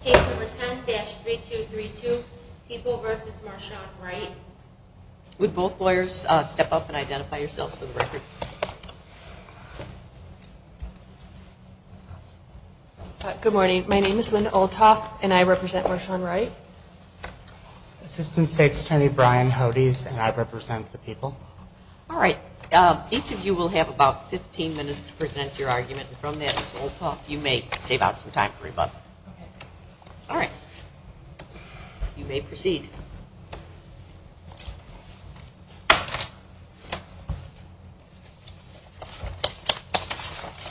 Case number 10-3232, People v. Marchand-Wright. Would both lawyers step up and identify yourselves for the record? Good morning. My name is Linda Olthoff, and I represent Marchand-Wright. Assistant State's Attorney Brian Hodes, and I represent the People. All right. Each of you will have about 15 minutes to present your argument. From there, Ms. Olthoff, you may save out some time for rebuttal. Okay. All right. You may proceed.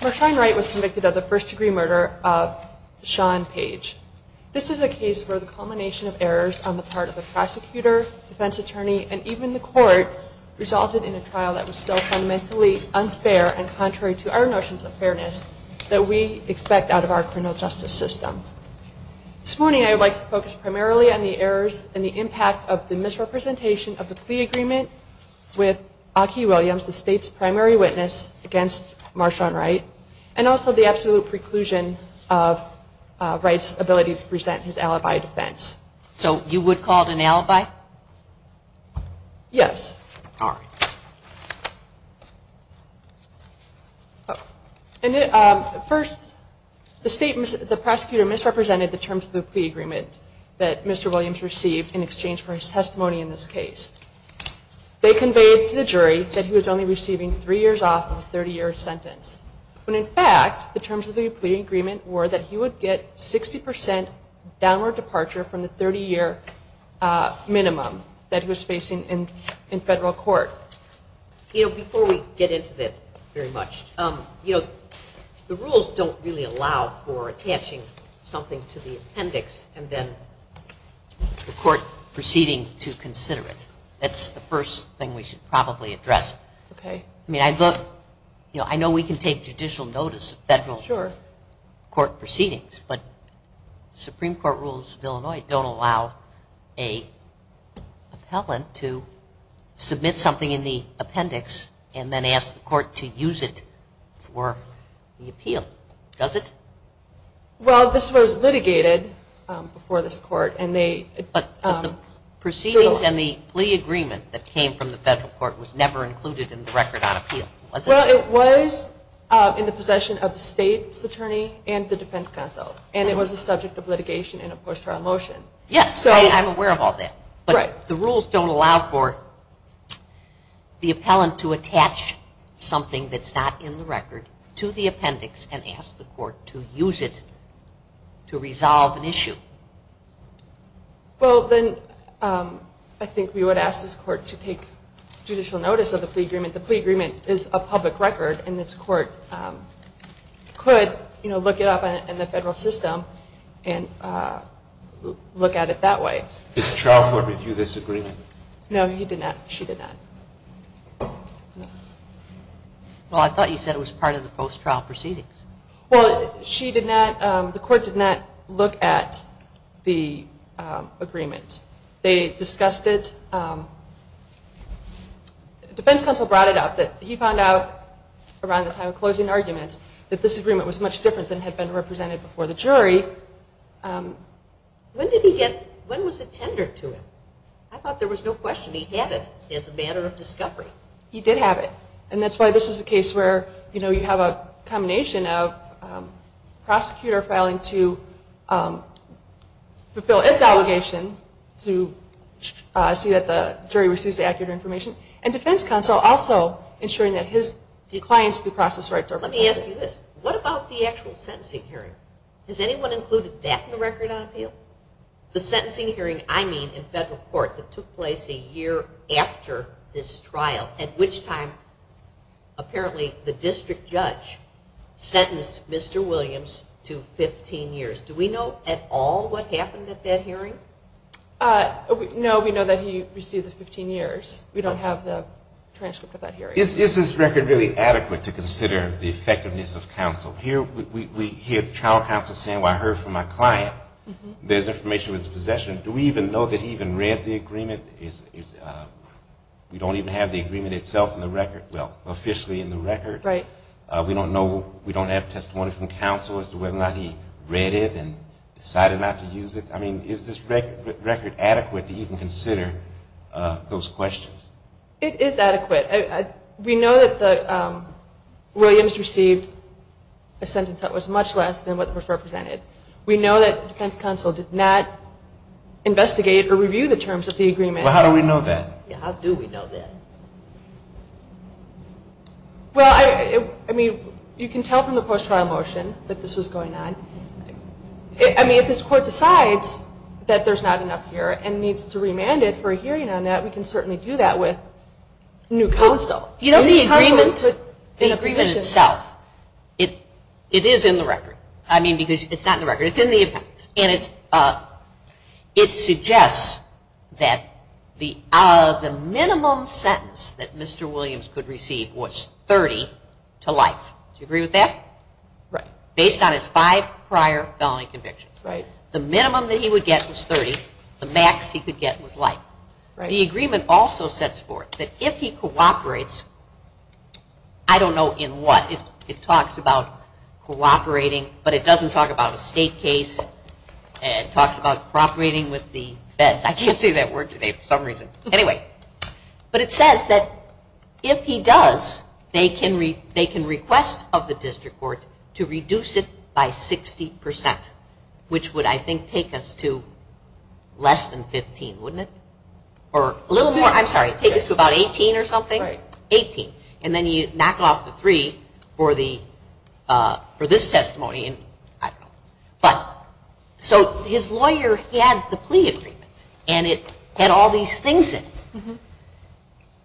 Marchand-Wright was convicted of the first-degree murder of Sean Page. This is a case where the culmination of errors on the part of the prosecutor, defense attorney, and even the court resulted in a trial that was so fundamentally unfair and contrary to our notions of fairness that we expect out of our criminal justice system. This morning, I would like to focus primarily on the errors and the impact of the misrepresentation of the plea agreement with Aki Williams, the State's primary witness against Marchand-Wright, and also the absolute preclusion of Wright's ability to present his alibi defense. So you would call it an alibi? Yes. All right. First, the prosecutor misrepresented the terms of the plea agreement that Mr. Williams received in exchange for his testimony in this case. They conveyed to the jury that he was only receiving three years off and a 30-year sentence, when in fact the terms of the plea agreement were that he would get 60% downward departure from the 30-year minimum that he was facing in federal court. Before we get into that very much, the rules don't really allow for attaching something to the appendix and then the court proceeding to consider it. That's the first thing we should probably address. I mean, I know we can take judicial notice of federal court proceedings, but Supreme Court rules of Illinois don't allow an appellant to submit something in the appendix and then ask the court to use it for the appeal, does it? Well, this was litigated before this court. But the proceedings and the plea agreement that came from the federal court Well, it was in the possession of the state's attorney and the defense counsel and it was a subject of litigation and a post-trial motion. Yes, I'm aware of all that. But the rules don't allow for the appellant to attach something that's not in the record to the appendix and ask the court to use it to resolve an issue. Well, then I think we would ask this court to take judicial notice of the plea agreement. The plea agreement is a public record and this court could look it up in the federal system and look at it that way. Did the trial court review this agreement? No, she did not. Well, I thought you said it was part of the post-trial proceedings. Well, the court did not look at the agreement. They discussed it. The defense counsel brought it up that he found out around the time of closing arguments that this agreement was much different than had been represented before the jury. When was it tendered to him? I thought there was no question he had it as a matter of discovery. He did have it. And that's why this is a case where you have a combination of prosecutor filing to fulfill its obligation to see that the jury receives accurate information and defense counsel also ensuring that his clients through process rights are protected. Let me ask you this. What about the actual sentencing hearing? Has anyone included that in the record on appeal? The sentencing hearing, I mean, in federal court that took place a year after this trial at which time apparently the district judge sentenced Mr. Williams to 15 years. Do we know at all what happened at that hearing? No, we know that he received the 15 years. We don't have the transcript of that hearing. Is this record really adequate to consider the effectiveness of counsel? Here we hear the trial counsel saying, well, I heard from my client. There's information in his possession. Do we even know that he even read the agreement? We don't even have the agreement itself in the record. Well, officially in the record. We don't have testimony from counsel as to whether or not he read it and decided not to use it. I mean, is this record adequate to even consider those questions? It is adequate. We know that Williams received a sentence that was much less than what was represented. We know that defense counsel did not investigate or review the terms of the agreement. Well, how do we know that? How do we know that? Well, I mean, you can tell from the post-trial motion that this was going on. I mean, if this court decides that there's not enough here and needs to remand it for a hearing on that, we can certainly do that with new counsel. You know, the agreement in itself, it is in the record. I mean, because it's not in the record. It's in the event. And it suggests that the minimum sentence that Mr. Williams could receive was 30 to life. Do you agree with that? Based on his five prior felony convictions. The minimum that he would get was 30. The max he could get was life. The agreement also sets forth that if he cooperates, I don't know in what. It talks about cooperating, but it doesn't talk about a state case. It talks about cooperating with the feds. I can't say that word today for some reason. Anyway, but it says that if he does, they can request of the district court to reduce it by 60%, which would, I think, take us to less than 15, wouldn't it? Or a little more. I'm sorry. Take us to about 18 or something? 18. And then you knock off the 3 for the for this testimony. But, so his lawyer had the plea agreement and it had all these things in it.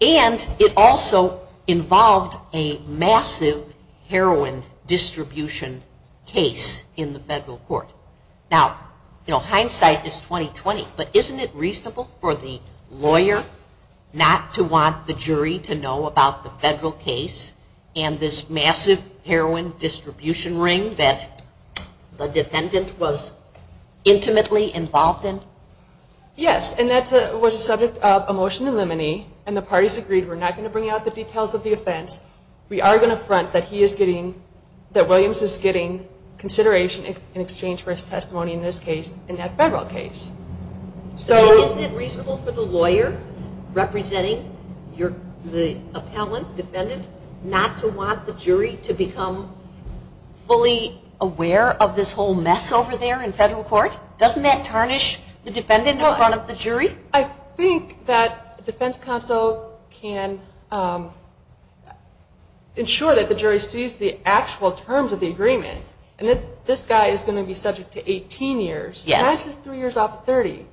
And it also involved a massive heroin distribution case in the federal court. Now, hindsight is 20-20, but isn't it reasonable for the lawyer not to want the jury to know about the federal case and this massive heroin distribution ring that the defendant was intimately involved in? Yes, and that was a subject of a motion to eliminate, and the parties agreed we're not going to bring out the details of the offense. We are going to front that he is getting that Williams is getting consideration in exchange for his testimony in this case, in that federal case. So, isn't it reasonable for the lawyer representing the appellant, defendant, not to want the jury to become fully aware of this whole mess over there in federal court? Doesn't that tarnish the defendant in front of the jury? I think that the defense counsel can ensure that the jury sees the actual terms of the agreement, and that this guy is going to be subject to 18 years. That's just three years off of 30.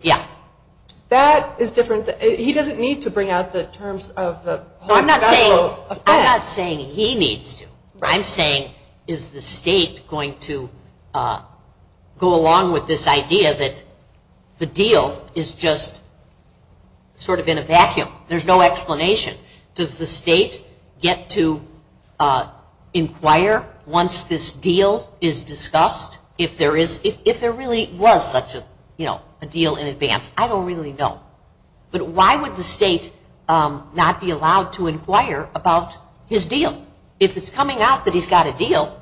That is different. He doesn't need to bring out the terms of the federal offense. I'm not saying he needs to. I'm saying, is the state going to go along with this idea that the deal is just sort of in a vacuum? There's no explanation. Does the state get to inquire once this deal is discussed? If there really was such a deal in advance? I don't really know. But why would the state not be allowed to inquire about his deal? If it's coming out that he's got a deal,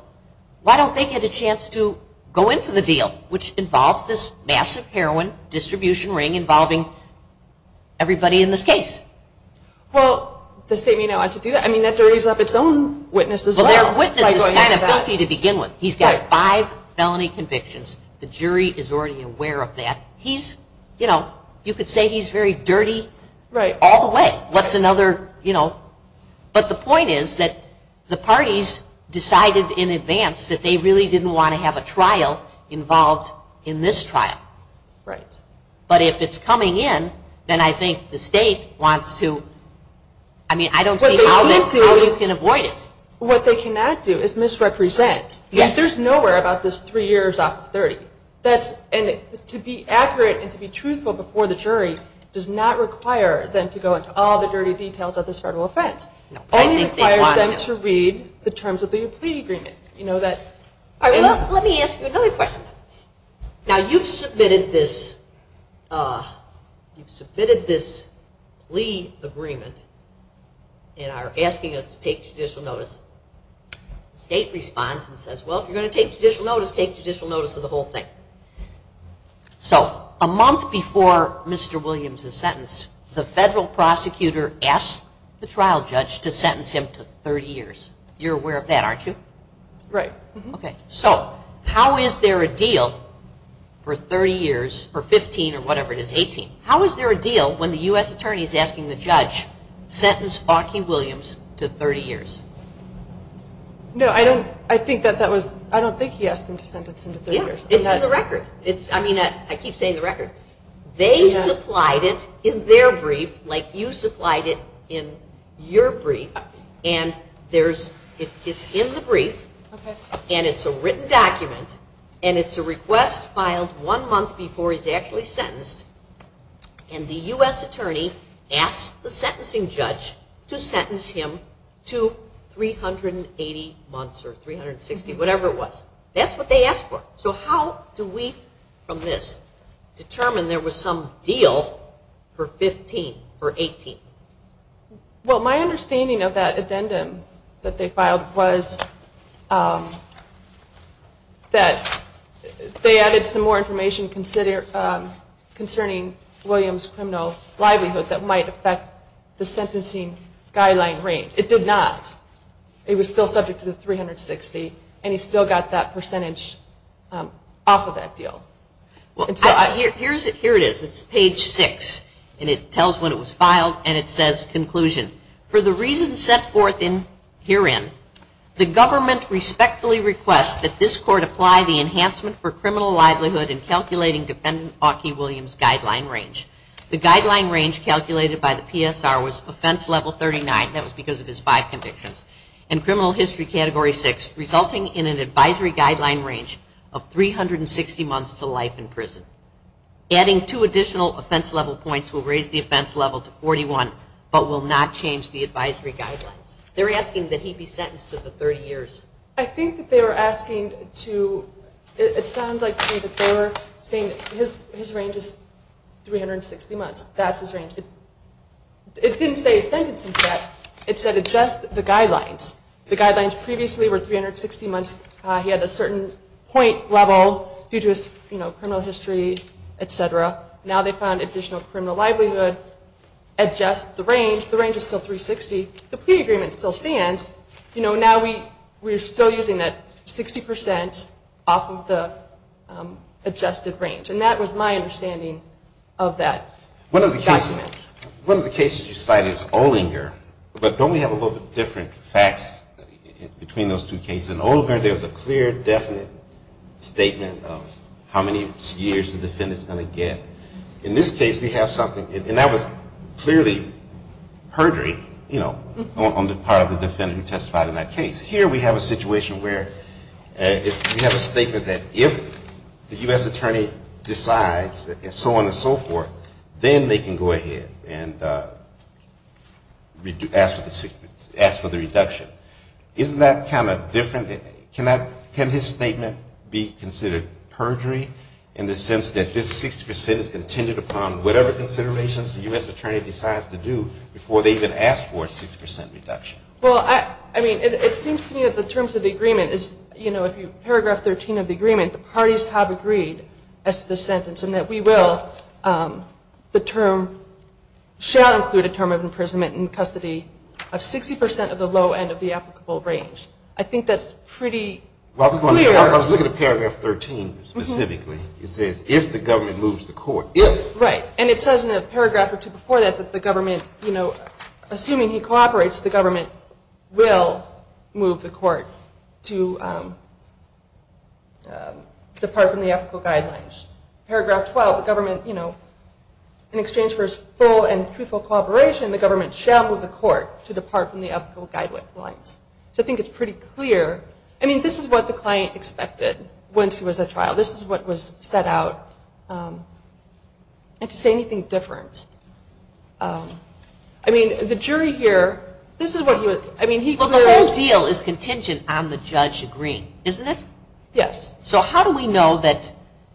why don't they get a chance to go into the deal? Which involves this massive heroin distribution ring involving everybody in this case. Well, the state may not want to do that. I mean, that carries up its own witnesses. He's got five felony convictions. The jury is already aware of that. You could say he's very dirty all the way. But the point is that the parties decided in advance that they really didn't want to have a trial involved in this trial. But if it's coming in, then I think the state wants to I mean, I don't see how you can avoid it. What they cannot do is misrepresent. There's nowhere about this three years off of 30. To be accurate and to be truthful before the jury does not require them to go into all the dirty details of this federal offense. It only requires them to read the terms of the plea agreement. Let me ask you another question. Now, you've submitted this plea agreement and are asking us to take judicial notice. The state responds and says, well, if you're going to take judicial notice, take judicial notice of the whole thing. So, a month before Mr. Williams' sentence, the federal prosecutor asked the trial judge to sentence him to 30 years. You're aware of that, aren't you? Right. So, how is there a deal for 30 years or 15 or whatever it is, 18. How is there a deal when the U.S. Attorney is asking the judge, sentence Aki Williams to 30 years? No, I don't think he asked him to sentence him to 30 years. It's in the record. I mean, I keep saying the record. They supplied it in their brief like you supplied it in your brief and it's in the brief and it's a written document and it's a request filed one month before he's actually sentenced and the U.S. Attorney asked the sentencing judge to sentence him to 380 months or 360, whatever it was. That's what they asked for. So how do we, from this, determine there was some deal for 15 or 18? Well, my understanding of that addendum that they filed was that they added some more information concerning Williams' criminal livelihood that might affect the sentencing guideline range. It did not. It was still subject to the 360 and he still got that percentage off of that deal. Here it is. It's page 6 and it tells when it was filed and it says conclusion. For the reasons set forth herein, the government respectfully requests that this court apply the enhancement for criminal livelihood in calculating Defendant Aki Williams' guideline range. The guideline range calculated by the PSR was offense level 39 and that was because of his five convictions and criminal history category 6 resulting in an advisory guideline range of 360 months to life in prison. Adding two additional offense level points will raise the offense level to 41 but will not change the advisory guidelines. They're asking that he be sentenced to the 30 years. I think that they were asking to it sounds like they were saying his range is 360 months. That's his range. It didn't say a sentence it said adjust the guidelines. The guidelines previously were 360 months. He had a certain point level due to his criminal history, etc. Now they found additional criminal livelihood adjust the range the range is still 360 the plea agreement still stands we're still using that 60% off of the adjusted range and that was my understanding of that. One of the cases you cited is Olinger but don't we have a little different facts between those two cases in Olinger there was a clear definite statement of how many years the defendant is going to get in this case we have something and that was clearly perjury on the part of the defendant who testified in that case here we have a situation where we have a statement that if the U.S. attorney decides and so on and so forth then they can go ahead and ask for the reduction isn't that kind of different can his statement be considered perjury in the sense that this 60% is contingent upon whatever considerations the U.S. attorney decides to do before they even ask for a 60% reduction Well I mean it seems to me that the terms of the agreement paragraph 13 of the agreement the parties have agreed as to this sentence and that we will the term shall include a term of imprisonment and custody of 60% of the low end of the applicable range I think that's pretty clear I was looking at paragraph 13 specifically it says if the government moves the court if right and it says in a paragraph or two before that that the government you know assuming he cooperates the government will move the court to depart from the applicable guidelines paragraph 12 the government in exchange for his full and truthful cooperation the government shall move the court to depart from the applicable guidelines so I think it's pretty clear I mean this is what the client expected once he was at trial this is what was set out and to say anything different I mean the jury here Well the whole deal is contingent on the judge agreeing isn't it? Yes. So how do we know that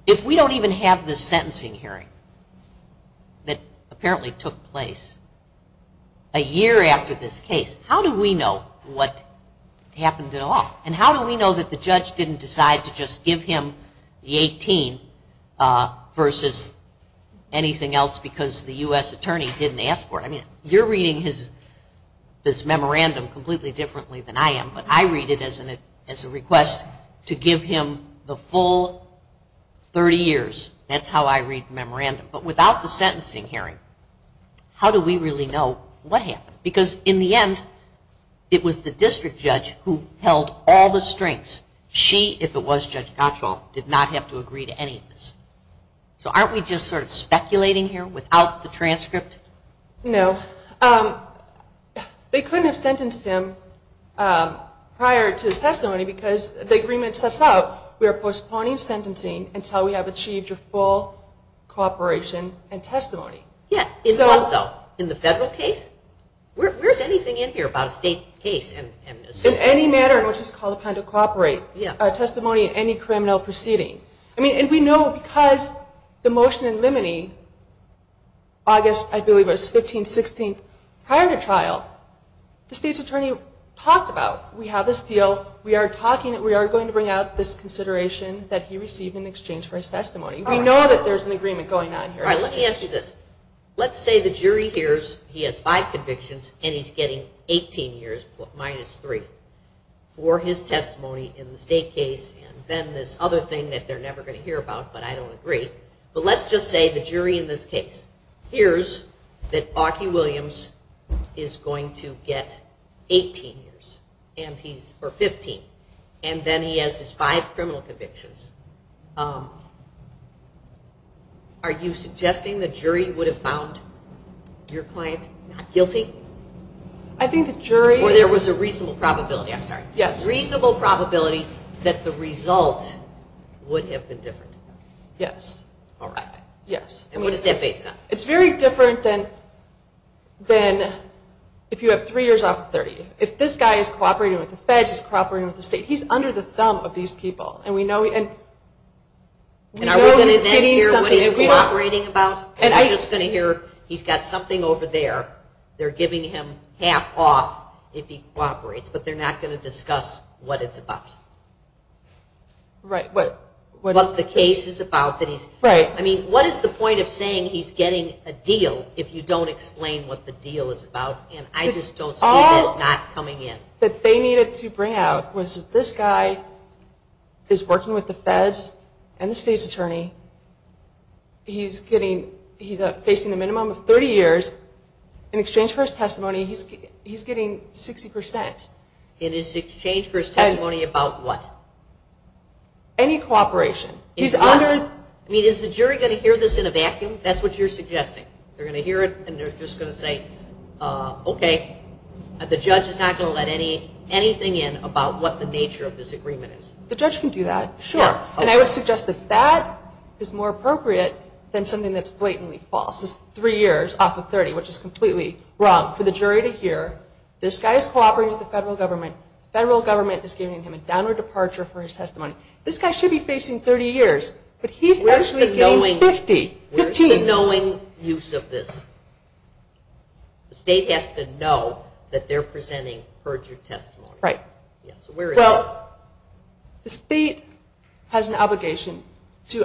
if we don't even have this sentencing hearing that apparently took place a year after this case how do we know what happened at all and how do we know that the judge didn't decide to just give him the 18 versus anything else because the US attorney didn't ask for it I mean you're reading his this memorandum completely differently than I am but I read it as a request to give him the full 30 years that's how I read the memorandum but without the sentencing hearing how do we really know what happened because in the end it was the district judge who held all the strings she if it was Judge Gatchal did not have to agree to any of this so aren't we just sort of speculating here without the transcript No they couldn't have sentenced him prior to his testimony because the agreement sets out we are postponing sentencing until we have achieved full cooperation and testimony in the federal case where's anything in here about a state case in any matter in which it's called upon to cooperate testimony in any criminal proceeding and we know because the motion in limine August I believe was 15-16 prior to trial the state's attorney talked about we have this deal we are going to bring out this consideration that he received in exchange for his testimony we know that there's an agreement going on here let's say the jury hears he has 5 convictions and he's getting 18 years minus 3 in the state case and then this other thing that they're never going to hear about but I don't the jury in this case hears that Bucky Williams is going to get 18 years or 15 and then he has his 5 criminal convictions are you suggesting the jury would have found your client not guilty I think the jury or there was a reasonable probability that the result would have been different yes it's very different than if you have 3 years off of 30 if this guy is cooperating with the feds he's cooperating with the state he's under the thumb of these people are we going to then hear what he's cooperating about he's got something over there they're giving him half off if he cooperates but they're not going to discuss what it's about what the case is about what is the point of saying he's getting a deal if you don't explain what the deal is about I just don't see it not coming in what they needed to bring out was this guy is working with the feds and the state's attorney he's getting he's facing a minimum of 30 years in exchange for his testimony he's getting 60% in exchange for his testimony about what any cooperation is the jury going to hear this in a vacuum that's what you're suggesting they're going to hear it and they're just going to say ok the judge is not going to let anything in about what the nature of this agreement is the judge can do that and I would suggest that that is more appropriate than something that's blatantly false 3 years off of 30 which is completely wrong for the jury to hear this guy is cooperating with the federal government the federal government is giving him a downward departure for his testimony this guy should be facing 30 years but he's actually getting 50 where's the knowing use of this the state has to know that they're presenting perjured testimony well the state has an obligation to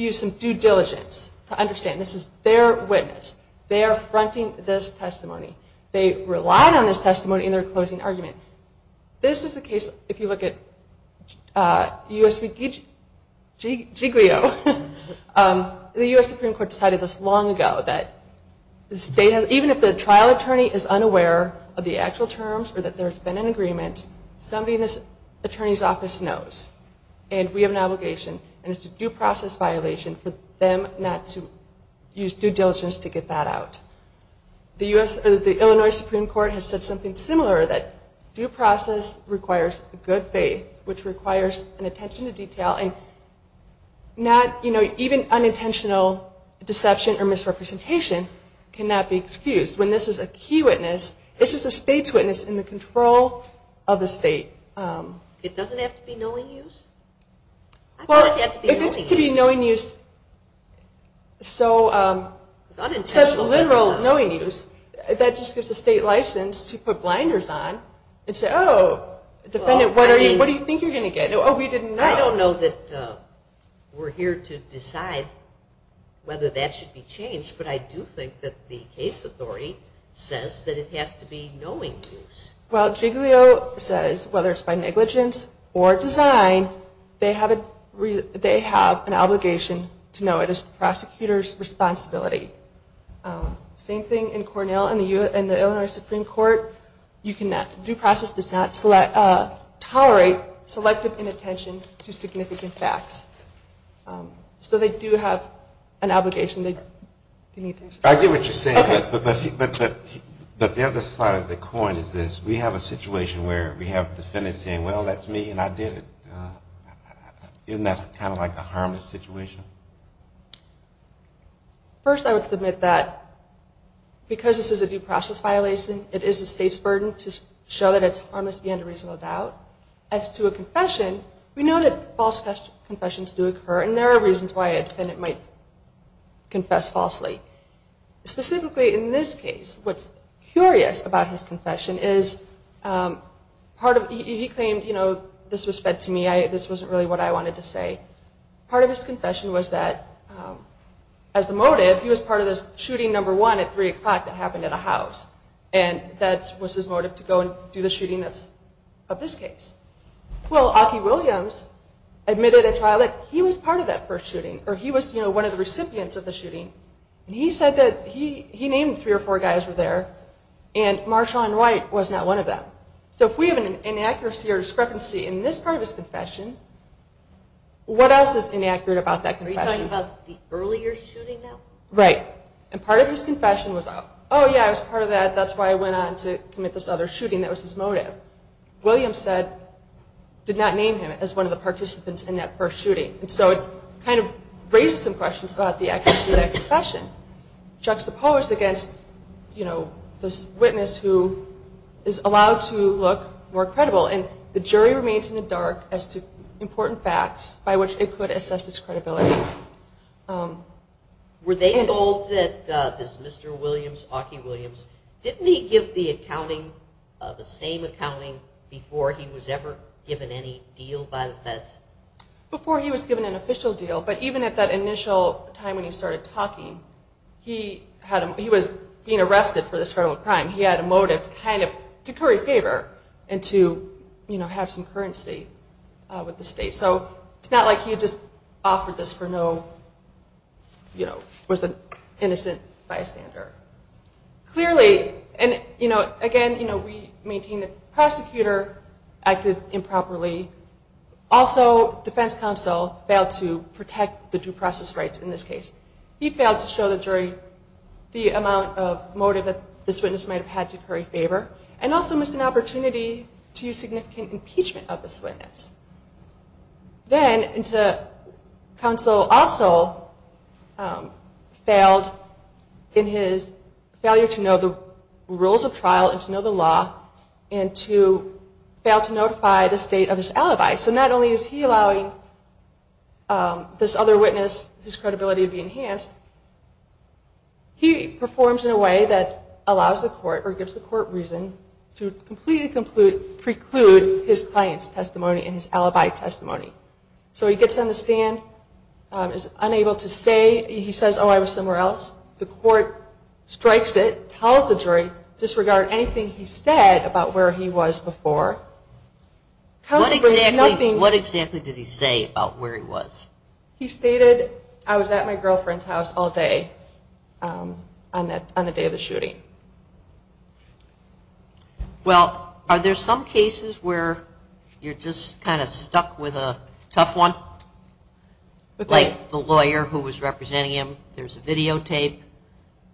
use some due diligence to understand this is their witness they are fronting this testimony they rely on this testimony in their closing argument this is the case if you look at US Supreme Court decided this long ago that even if the trial attorney is unaware of the actual terms or that there's been an agreement somebody in this attorney's office knows and we have an obligation and it's a due process violation for them not to use due diligence to get that out the Illinois Supreme Court has said something similar due process requires good faith which requires attention to detail even unintentional deception or misrepresentation cannot be excused when this is a key witness this is a state's witness in the control of the state it doesn't have to be knowing use well if it's to be knowing use so such literal knowing use that just gives the state license to put blinders on and say oh defendant what do you think you're going to get oh we didn't know I don't know that we're here to decide whether that should be changed but I do think that the case authority says that it has to be knowing use well Giglio says whether it's by negligence or design they have an obligation to know it is the prosecutor's responsibility same thing in Cornell and the Illinois Supreme Court due process does not tolerate selective inattention to significant facts so they do have an obligation I get what you're saying but the other side of the coin we have a situation where we have a defendant saying well that's me and I did it isn't that kind of like a harmless situation first I would submit that because this is a due process violation it is the state's burden to show that it's harmless beyond a reasonable doubt as to a confession we know that false confessions do occur and there are reasons why a defendant might confess falsely specifically in this case what's curious about his confession is he claimed this was fed to me this wasn't really what I wanted to say part of his confession was that as a motive he was part of this shooting at 3 o'clock that happened at a house and that was his motive to go and do the shooting of this case well Aki Williams admitted at trial that he was part of that first shooting or he was one of the recipients of the shooting and he said that he named 3 or 4 guys were there and Marshawn White was not one of them so if we have an inaccuracy or discrepancy in this part of his confession what else is inaccurate about that confession are you talking about the earlier shooting? right and part of his confession was oh yeah I was part of that that's why I went on to commit this other shooting that was his motive Williams said did not name him as one of the participants in that first shooting so it kind of raises some questions about the accuracy of that confession juxtaposed against you know this witness who is allowed to look more credible and the jury remains in the dark as to important facts by which it could assess its credibility were they told that this Mr. Williams, Aki Williams didn't he give the accounting the same accounting before he was ever given any deal before he was given an official deal but even at that initial time when he started talking he was being arrested for this criminal crime he had a motive to curry favor and to have some currency with the state so it's not like he just offered this for no innocent bystander clearly again the prosecutor acted improperly also defense counsel failed to protect the due process rights in this case he failed to show the jury the amount of motive that this witness might have had to curry favor and also missed an opportunity to use significant impeachment of this witness then counsel also failed in his failure to know the rules of trial and to know the law and to fail to notify the state of his alibi so not only is he allowing this other witness his credibility to be enhanced he performs in a way that allows the court or gives the court reason to completely preclude his client's testimony and his alibi testimony so he gets on the stand is unable to say he says oh I was somewhere else the court strikes it calls the jury disregard anything he said about where he was before what exactly did he say about where he was he stated I was at my girlfriend's house all day on the day of the shooting well are there some cases where you're just kind of stuck with a tough one like the lawyer who was representing him there's a videotape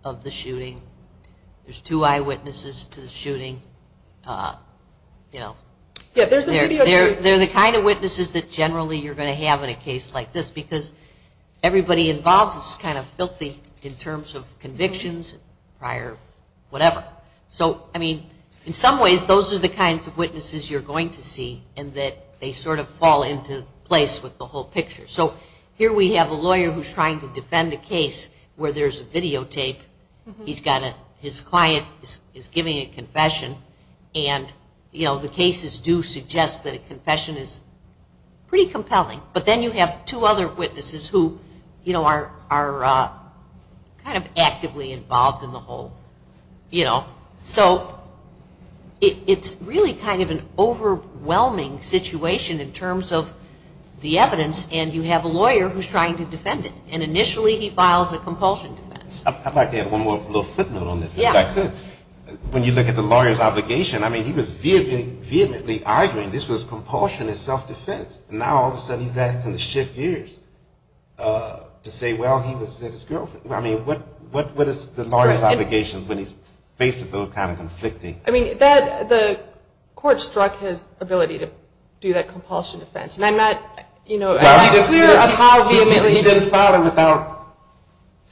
of the shooting there's two eyewitnesses to the shooting you know they're the kind of witnesses that generally you're going to have in a case like this because everybody involved is kind of filthy in terms of convictions prior whatever so I mean in some ways those are the kinds of witnesses you're going to see and that they sort of fall into place with the whole picture so here we have a lawyer who's trying to defend a case where there's a videotape his client is giving a confession and the cases do suggest that a confession is pretty compelling but then you have two other witnesses who are kind of actively involved in the whole so it's really kind of an overwhelming situation in terms of the evidence and you have a lawyer who's trying to defend it and initially he files a compulsion defense I'd like to add one more little footnote on this when you look at the lawyer's obligation I mean he was vehemently arguing this was compulsion and self-defense and now all of a sudden he's acting to shift gears to say well he was at his girlfriend I mean what is the lawyer's obligation when he's faced with those kind of conflicting I mean the court struck his ability to do that compulsion defense and I'm not clear on how vehemently he didn't file it without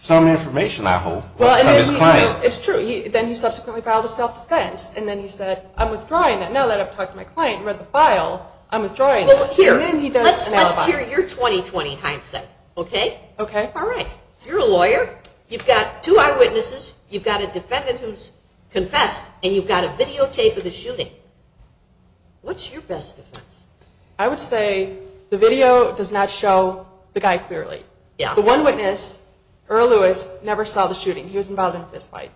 some information I hope from his client then he subsequently filed a self-defense and then he said I'm withdrawing that now that I've talked to my client and read the file I'm withdrawing that let's hear your 20-20 hindsight you're a lawyer you've got two eyewitnesses you've got a defendant who's confessed and you've got a videotape of the shooting what's your best defense? I would say the video does not show the guy clearly the one witness Earl Lewis never saw the shooting he was involved in a fist fight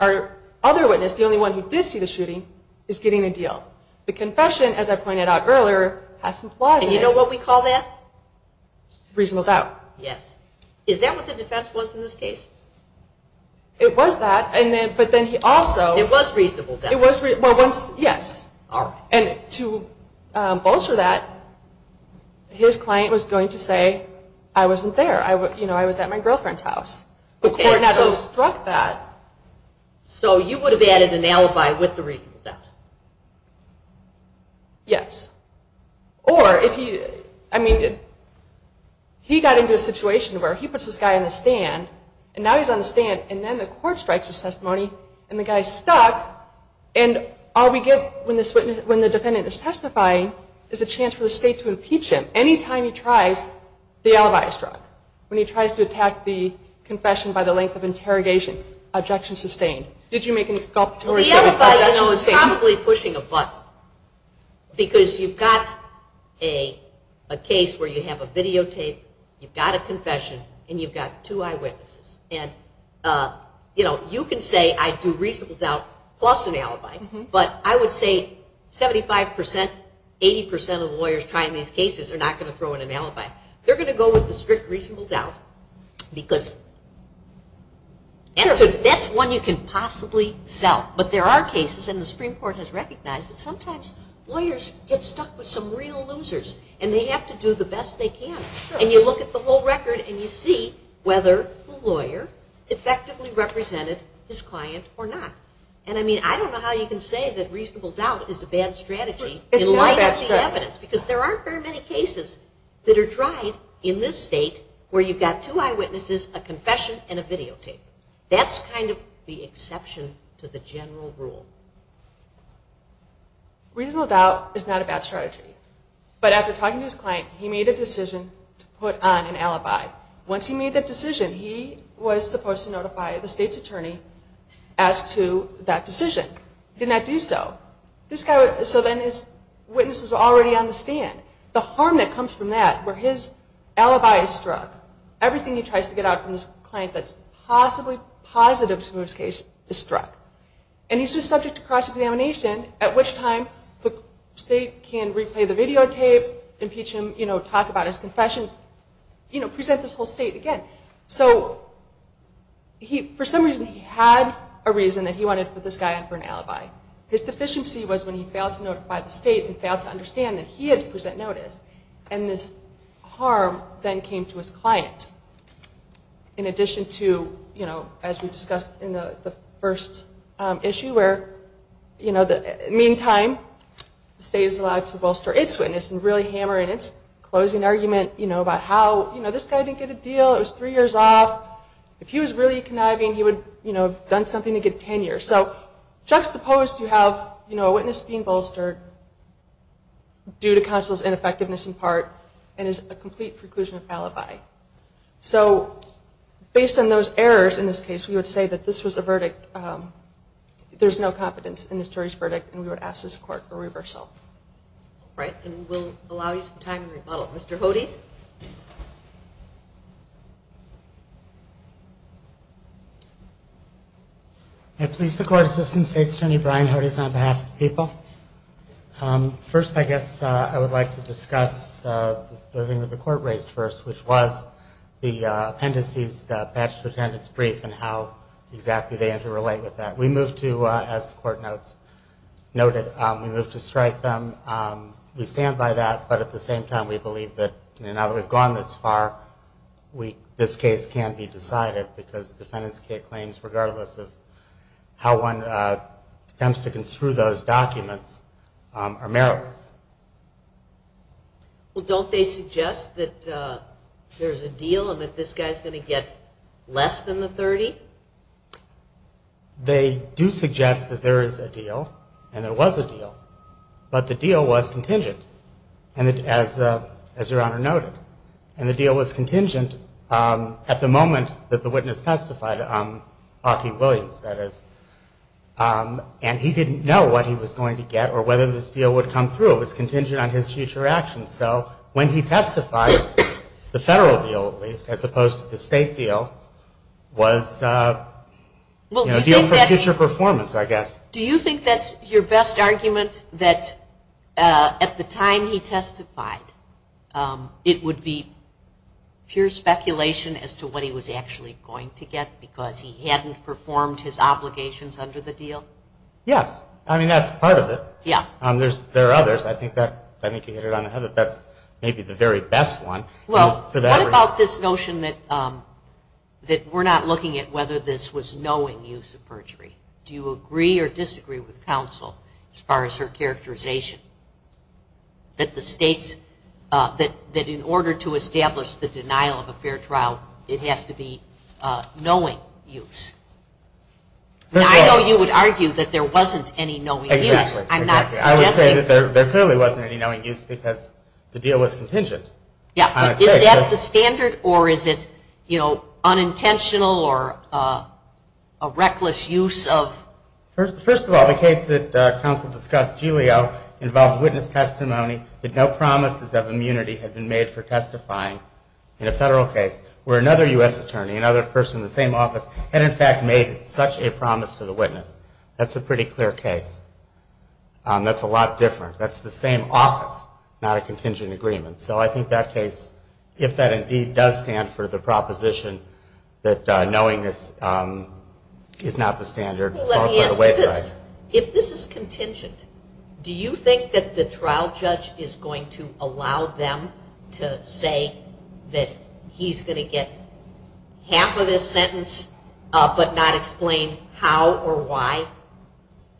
our other witness, the only one who did see the shooting is getting a deal the confession as I pointed out earlier has some flaws in it and you know what we call that? reasonable doubt is that what the defense was in this case? it was that but then he also it was reasonable doubt yes and to bolster that his client was going to say I wasn't there I was at my girlfriend's house the court so struck that so you would have added an alibi with the reasonable doubt yes or he got into a situation where he puts this guy on the stand and now he's on the stand and then the court strikes a testimony and the guy's stuck and all we get when the defendant is testifying is a chance for the state to impeach him any time he tries the alibi is struck when he tries to attack the confession by the length of interrogation objection sustained the alibi is probably pushing a button because you've got a case where you have a videotape you've got a confession and you've got two eyewitnesses you can say I do reasonable doubt plus an alibi but I would say 75% 80% of lawyers trying these cases are not going to throw in an alibi they're going to go with the strict reasonable doubt because that's one you can possibly sell but there are cases and the Supreme Court has recognized that sometimes lawyers get stuck with some real losers and they have to do the best they can and you look at the whole record and you see whether the lawyer effectively represented his client or not and I don't know how you can say that reasonable doubt is a bad strategy because there aren't very many cases that are tried in this state where you've got two eyewitnesses a confession and a videotape that's kind of the exception to the general rule reasonable doubt reasonable doubt is not a bad strategy but after talking to his client he made a decision to put on an alibi once he made that decision he was supposed to notify the state's attorney as to that decision he did not do so so then his witness was already on the stand the harm that comes from that where his alibi is struck everything he tries to get out from this client that's possibly positive to his case is struck and he's just subject to cross-examination at which time the state can replay the videotape impeach him, talk about his confession present this whole state again for some reason he had a reason that he wanted to put this guy on for an alibi his deficiency was when he failed to notify the state and failed to understand that he had to present notice and this harm then came to his client in addition to as we discussed in the first issue where in the meantime the state is allowed to bolster its witness and really hammer in its closing argument about how this guy didn't get a deal, it was three years off if he was really conniving he would have done something to get tenure so juxtaposed you have a witness being bolstered due to counsel's ineffectiveness in part and is a complete preclusion of alibi so based on those errors in this case we would say that this was a verdict there's no competence in this jury's verdict and we would ask this court for reversal Right, and we'll allow you some time to rebuttal. Mr. Hodes? May I please the Court Assistant State Attorney Brian Hodes on behalf of the people first I guess I would like to discuss the thing that the court raised first which was the appendices the bachelor's attendance brief and how exactly they interrelate with that we move to, as the court notes noted, we move to strike them, we stand by that but at the same time we believe that now that we've gone this far this case can't be decided because defendant's claims regardless of how one attempts to construe those documents are meritless Well don't they suggest that there's a deal and that this guy's going to get less than the 30? They do suggest that there is a deal and there was a deal but the deal was contingent as your honor noted and the deal was contingent at the moment that the witness testified, Aki Williams that is and he didn't know what he was going to get or whether this deal would come through it was contingent on his future actions so when he testified the federal deal at least as opposed to the state deal was a deal for future performance I guess Do you think that's your best argument that at the time he testified it would be pure speculation as to what he was actually going to get because he hadn't performed his obligations under the deal? Yes, I mean that's part of it. There are others I think that maybe the very best one What about this notion that we're not looking at whether this was knowing use of perjury Do you agree or disagree with counsel as far as her characterization that the states that in order to establish the denial of a fair trial it has to be knowing use I know you would argue that there wasn't any knowing use I'm not suggesting There clearly wasn't any knowing use because the deal was contingent Is that the standard or is it unintentional or a reckless use of First of all the case that counsel discussed, Julio involved witness testimony that no promises of immunity had been made for testifying in a federal case where another U.S. attorney another person in the same office had in fact made such a promise to the witness. That's a pretty clear case That's a lot different. That's the same office not a contingent agreement. So I think that case, if that indeed does stand for the proposition that knowingness is not the standard If this is contingent do you think that the trial judge is going to allow them to say that he's going to get half of this sentence but not explain how or why?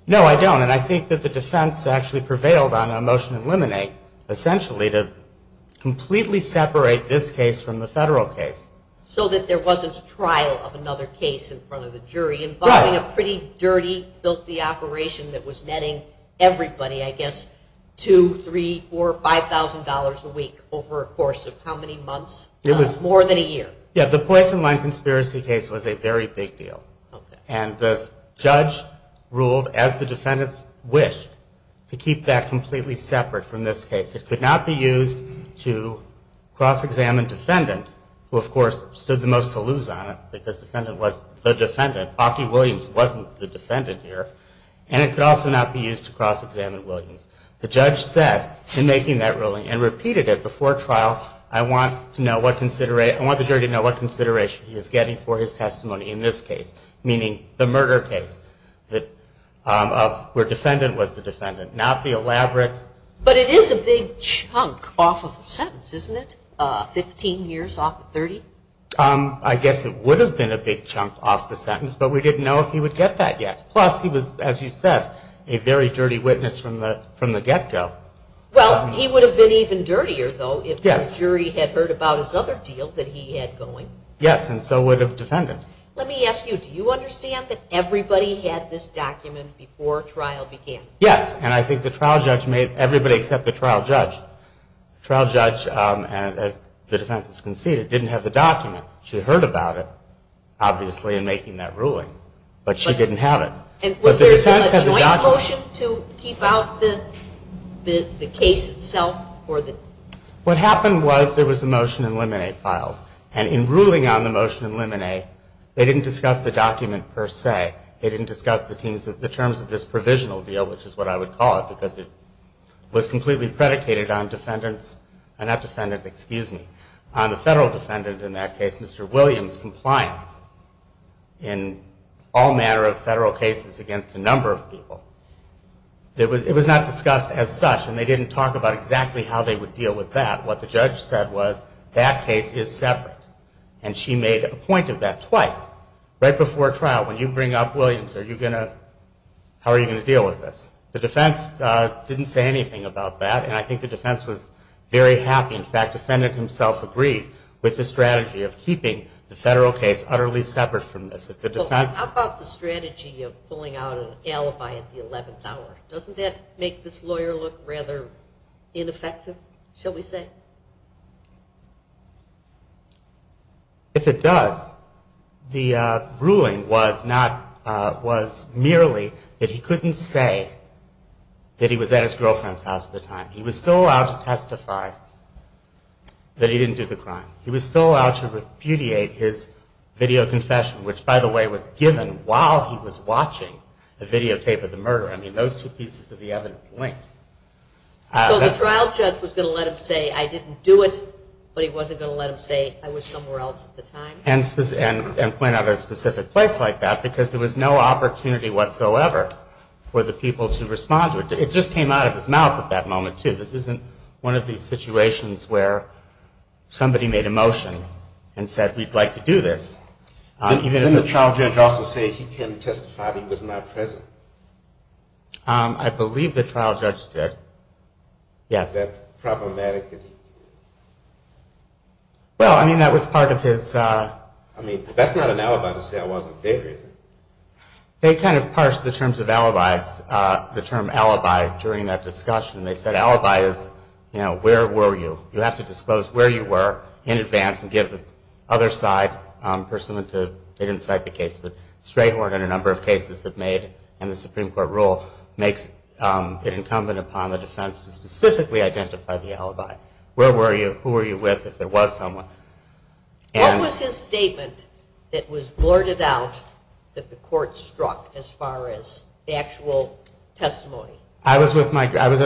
No I don't and I think that the defense actually prevailed on a motion to eliminate essentially to completely separate this case from the federal case. So that there wasn't a trial of another case in front of the jury involving a pretty dirty filthy operation that was netting everybody I guess two, three, four, five thousand dollars a week over a course of how many months more than a year. The Poison Line Conspiracy case was a very big deal and the judge ruled as the defendants wished to keep that completely separate from this case. It could not be used to cross examine defendant who of course stood the most to lose on it because the defendant was the defendant Aki Williams wasn't the defendant here and it could also not be used to cross examine Williams. The judge said in making that ruling and repeated it before trial I want the jury to know what consideration he is getting for his testimony in this case meaning the murder case where defendant was the defendant not the elaborate But it is a big chunk off of the sentence isn't it? Fifteen years off of thirty? I guess it would have been a big chunk off the sentence but we didn't know if he would get that yet. Plus he was as you said a very dirty witness from the get go. Well he would have been even dirtier though if the jury had heard about his other deal that he had going. Yes and so would have defendant. Let me ask you, do you understand that everybody had this document before trial began? Yes and I think the trial judge made everybody except the trial judge trial judge as the defense has conceded didn't have the document. She heard about it obviously in making that ruling but she didn't have it. Was there a joint motion to keep out the case itself? What happened was there was a motion in limine filed and in ruling on the motion in limine they didn't discuss the document per se. They didn't discuss the terms of this provisional deal which is what I would call it because it was completely predicated on defendants, not defendant excuse me, on the federal defendant in that case Mr. Williams compliance in all manner of federal cases against a number of people. It was not discussed as such and they didn't talk about exactly how they would deal with that. What the judge said was that case is separate and she made a point of that twice right before trial when you bring up Williams are you going to, how are you going to deal with this? The defense didn't say anything about that and I think the defense was very happy in fact defendant himself agreed with the strategy of keeping the federal case utterly separate from this. How about the strategy of pulling out an alibi at the 11th hour? Doesn't that make this lawyer look rather ineffective shall we say? If it does the ruling was not was merely that he couldn't say that he was at his girlfriend's house at the time he was still allowed to testify that he didn't do the crime he was still allowed to repudiate his video confession which by the way was given while he was watching the videotape of the murder. I mean those two pieces of the evidence linked. So the trial judge was going to let him say I didn't do it but he wasn't going to let him say I was somewhere else at the time? And point out a specific place like that because there was no opportunity whatsoever for the people to respond to it. It just came out of his mouth at that moment too. This isn't one of these situations where somebody made a motion and said we'd like to do this. Didn't the trial judge also say he couldn't testify that he was not present? I believe the trial judge did. Yes. Was that problematic? Well I mean that was part of his I mean that's not an alibi to say I wasn't there is it? They kind of parsed the terms of alibis the term alibi during that discussion. They said alibi is you know where were you? You have to give the other side person that didn't cite the case. Strayhorn and a number of cases have made and the Supreme Court rule makes it incumbent upon the defense to specifically identify the alibi. Where were you? Who were you with? If there was someone. What was his statement that was blurted out that the court struck as far as the actual testimony? I was at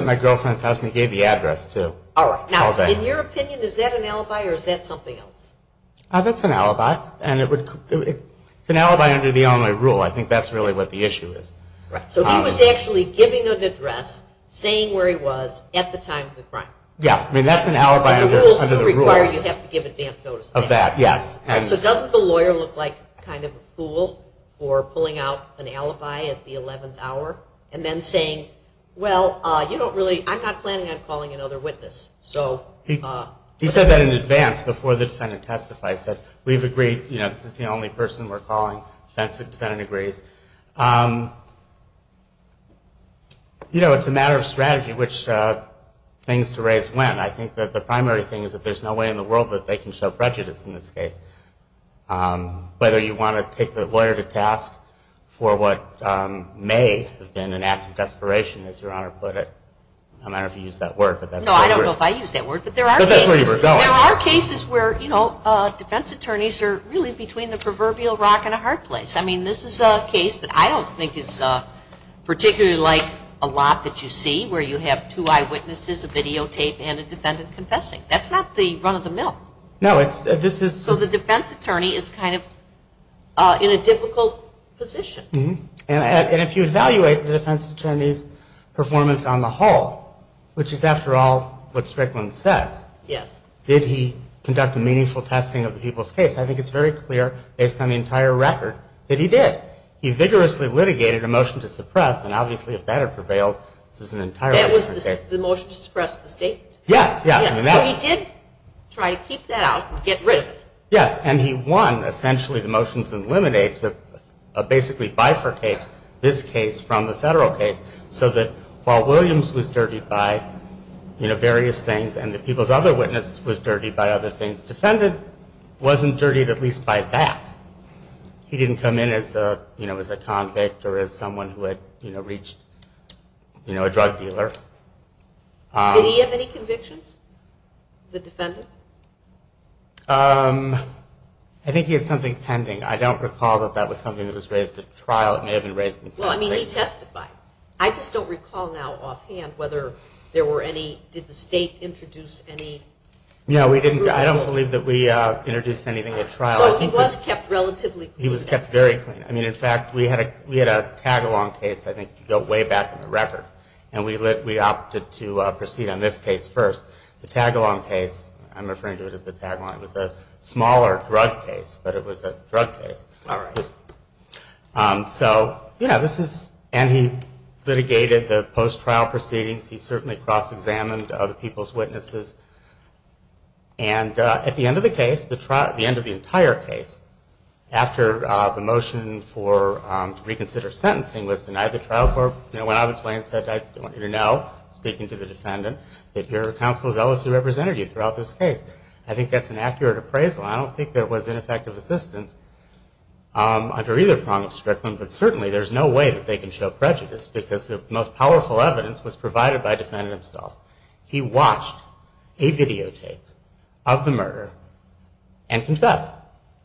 my girlfriend's house and he gave the address too. Now in your opinion is that an alibi or is that something else? That's an alibi. It's an alibi under the Illinois rule I think that's really what the issue is. So he was actually giving an address saying where he was at the time of the crime. The rules do require you have to give advance notice. So doesn't the lawyer look like kind of a fool for pulling out an alibi at the 11th hour and then saying well you don't really I'm not planning on calling another witness. He said that in advance before the defendant testified. We've agreed this is the only person we're calling. Defendant agrees. It's a matter of strategy which things to raise when. I think that the primary thing is that there's no way in the world that they can show prejudice in this case. Whether you want to take the lawyer to task for what may have been an act of desperation as your Honor put it. I don't know if you used that word. There are cases where defense attorneys are really between the proverbial rock and a hard place. I mean this is a case that I don't think is particularly like a lot that you see where you have two eyewitnesses, a videotape and a defendant confessing. That's not the run of the mill. So the defense attorney is kind of in a difficult position. And if you evaluate the defense attorney's performance on the whole, which is after all what Strickland says, did he conduct a meaningful testing of the people's case? I think it's very clear based on the entire record that he did. He vigorously litigated a motion to suppress and obviously if that had prevailed, this is an entire different case. That was the motion to suppress the state? Yes. He did try to keep that out and get rid of it. And he won essentially the motions and eliminate, basically bifurcate this case from the federal case so that while Williams was dirtied by various things and the people's other witness was dirtied by other things, the defendant wasn't dirtied at least by that. He didn't come in as a convict or someone who had reached a drug dealer. Did he have any convictions? The defendant? I think he had something pending. I don't recall that that was something that was raised at trial. It may have been raised in sentencing. He testified. I just don't recall now offhand whether there were any did the state introduce any No, we didn't. I don't believe that we introduced anything at trial. He was kept relatively clean. He was kept very clean. In fact, we had a tag-along case I think way back in the record and we opted to proceed on this case first. The tag-along case, I'm referring to it as the tag-along, was a smaller drug case, but it was a drug case. All right. So, you know, this is and he litigated the post-trial proceedings. He certainly cross-examined other people's witnesses and at the end of the case, the end of the entire case after the motion for reconsider sentencing was denied the trial court, you know, when I was away and said, I want you to know, speaking to the defendant, that your counsel is zealous to represent you throughout this case. I think that's an accurate appraisal. I don't think there was ineffective assistance under either prong of Strickland, but certainly there's no way that they can show prejudice because the most powerful evidence was provided by the defendant himself. He watched a videotape of the murder and confessed.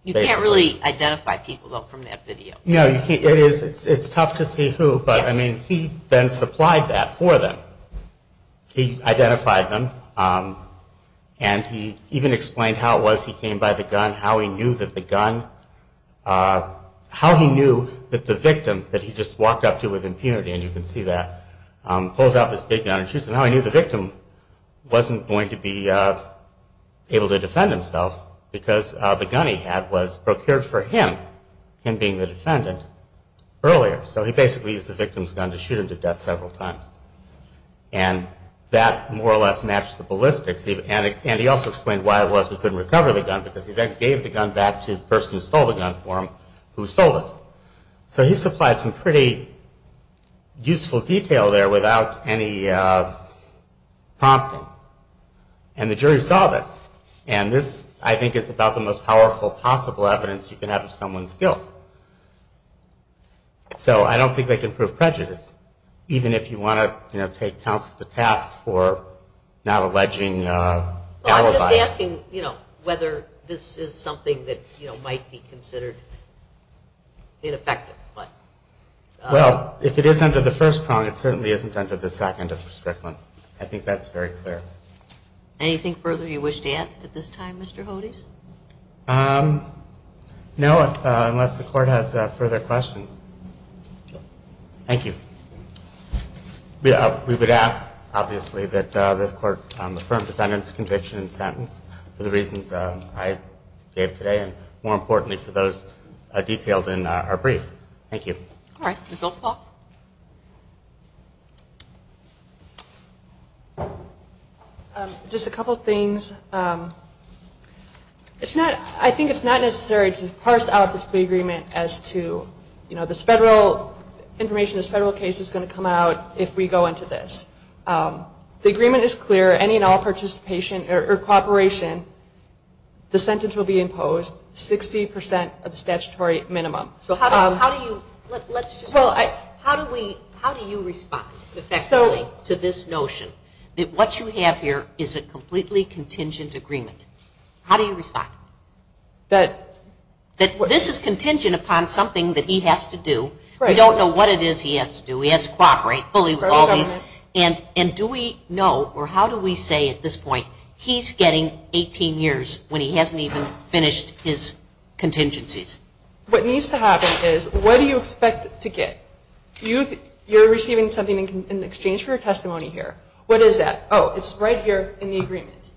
You can't really identify people from that video. It's tough to see who, but I mean, he then supplied that for them. He identified them and he even explained how it was he came by the gun, how he knew that the gun how he knew that the victim that he just walked up to with impunity, and you can see that, pulls out this big gun and shoots him. How he knew the victim wasn't going to be able to defend himself because the gun he had was procured for him, him being the defendant, earlier. So he basically used the victim's gun to shoot him to death several times. And that more or less matched the ballistics. And he also explained why it was we couldn't recover the gun because he then gave the gun back to the person who stole the gun for him, who sold it. So he supplied some pretty useful detail there without any prompting. And the jury saw this. And this, I think, is about the most powerful possible evidence you can have of someone's guilt. So I don't think they can prove prejudice, even if you want to take counsel to task for not alleging alibi. Well, I'm just asking whether this is something that might be considered ineffective. Well, if it is under the first prong, it certainly isn't under the second prong. I think that's very clear. Anything further you wish to add at this time, Mr. Hodes? No, unless the Court has further questions. Thank you. We would ask, obviously, that the Court affirm the defendant's conviction and sentence for the reasons I gave today, and more importantly for those detailed in our brief. Thank you. All right. Ms. Oldpaw? Just a couple things. I think it's not necessary to parse out this plea agreement as to this federal information, this federal case is going to come out if we go into this. The agreement is clear. Any and all participation or cooperation, the sentence will be imposed 60 percent of the statutory minimum. How do you respond effectively to this notion that what you have here is a completely contingent agreement? How do you respond? This is contingent upon something that he has to do. We don't know what it is he has to do. He has to cooperate fully with all these. And do we know, or how do we say at this point, he's getting 18 years when he hasn't even finished his contingencies? What needs to happen is, what do you expect to get? You're receiving something in exchange for your testimony here. What is that? Oh, it's right here in the agreement.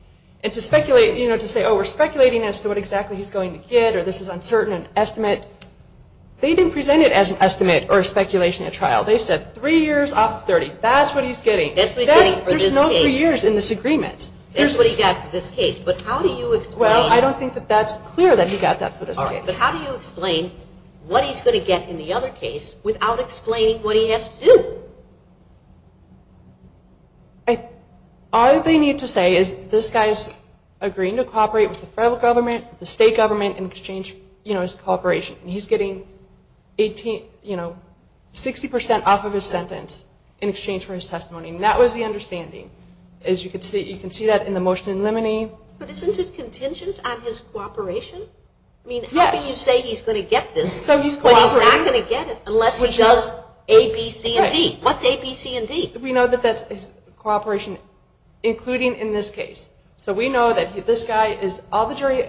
And to speculate, you know, to say, oh, we're speculating as to what exactly he's going to get, or this is uncertain an estimate. They didn't present it as an estimate or a speculation at trial. They said three years off of 30. That's what he's getting. That's what he's getting for this case. There's no three years in this agreement. That's what he got for this case. But how do you explain Well, I don't think that that's clear that he got that for this case. But how do you explain what he's going to get in the other case without explaining what he has to do? All they need to say is this guy's agreeing to cooperate with the federal government, the state government in exchange for his cooperation. He's getting 60% off of his sentence in exchange for his testimony. And that was the understanding. As you can see, you can see that in the motion in limine. But isn't it contingent on his cooperation? I mean, how can you say he's going to get this when he's not going to get it unless he does A, B, C, and D? What's A, B, C, and D? We know that that's his cooperation, including in this case. So we know that this guy is, all the jury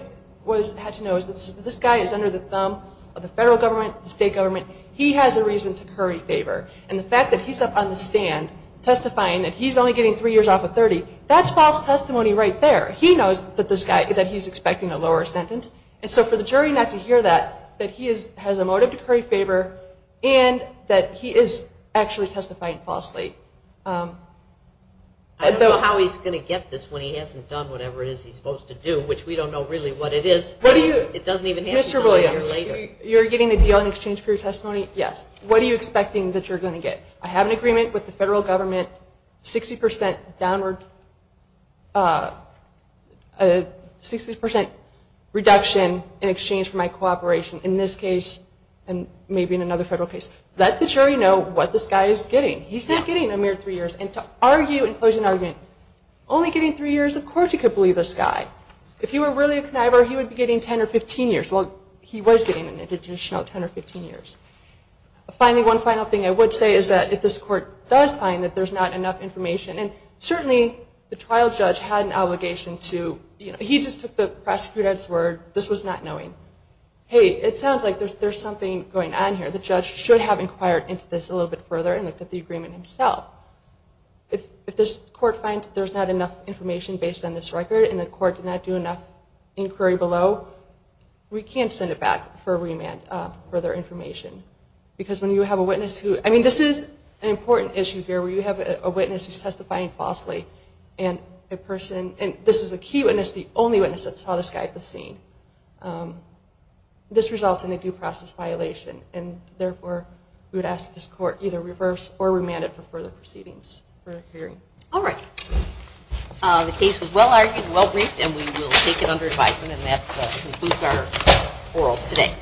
had to know is that this guy is under the thumb of the federal government, the state government. He has a reason to curry favor. And the fact that he's up on the stand testifying that he's only getting three years off of 30, that's false testimony right there. He knows that this guy, that he's expecting a lower sentence. And so for the jury not to hear that, that he has a motive to curry favor and that he is actually testifying falsely. I don't know how he's going to get this when he hasn't done whatever it is he's supposed to do, which we don't know really what it is. It doesn't even have to be done a year later. Mr. Williams, you're getting a deal in exchange for your testimony? Yes. What are you expecting that you're going to get? I have an agreement with the federal government 60% downward 60% reduction in exchange for my cooperation in this case and maybe in another federal case. Let the jury know what this guy is getting. He's not getting a mere three years. And to argue and close an argument only getting three years? Of course you could believe this guy. If he were really a conniver, he would be getting 10 or 15 years. Well, he was getting an additional 10 or 15 years. Finally, one final thing I would say is that if this court does find that there's not enough information and certainly the trial judge had an obligation to he just took the prosecutor's word this was not knowing. Hey, it sounds like there's something going on here. The judge should have inquired into this a little bit further and looked at the agreement himself. If this court finds that there's not enough information based on this record and the court did not do enough inquiry below, we can't send it back for further information. Because when you have a witness who, I mean this is an important issue here where you have a witness who's testifying falsely and a person, and this is a key witness the only witness that saw this guy at the scene this results in a due process violation. Therefore, we would ask this court either reverse or remand it for further proceedings. The case was well argued and well briefed and we will take it under advisement and that concludes our orals today.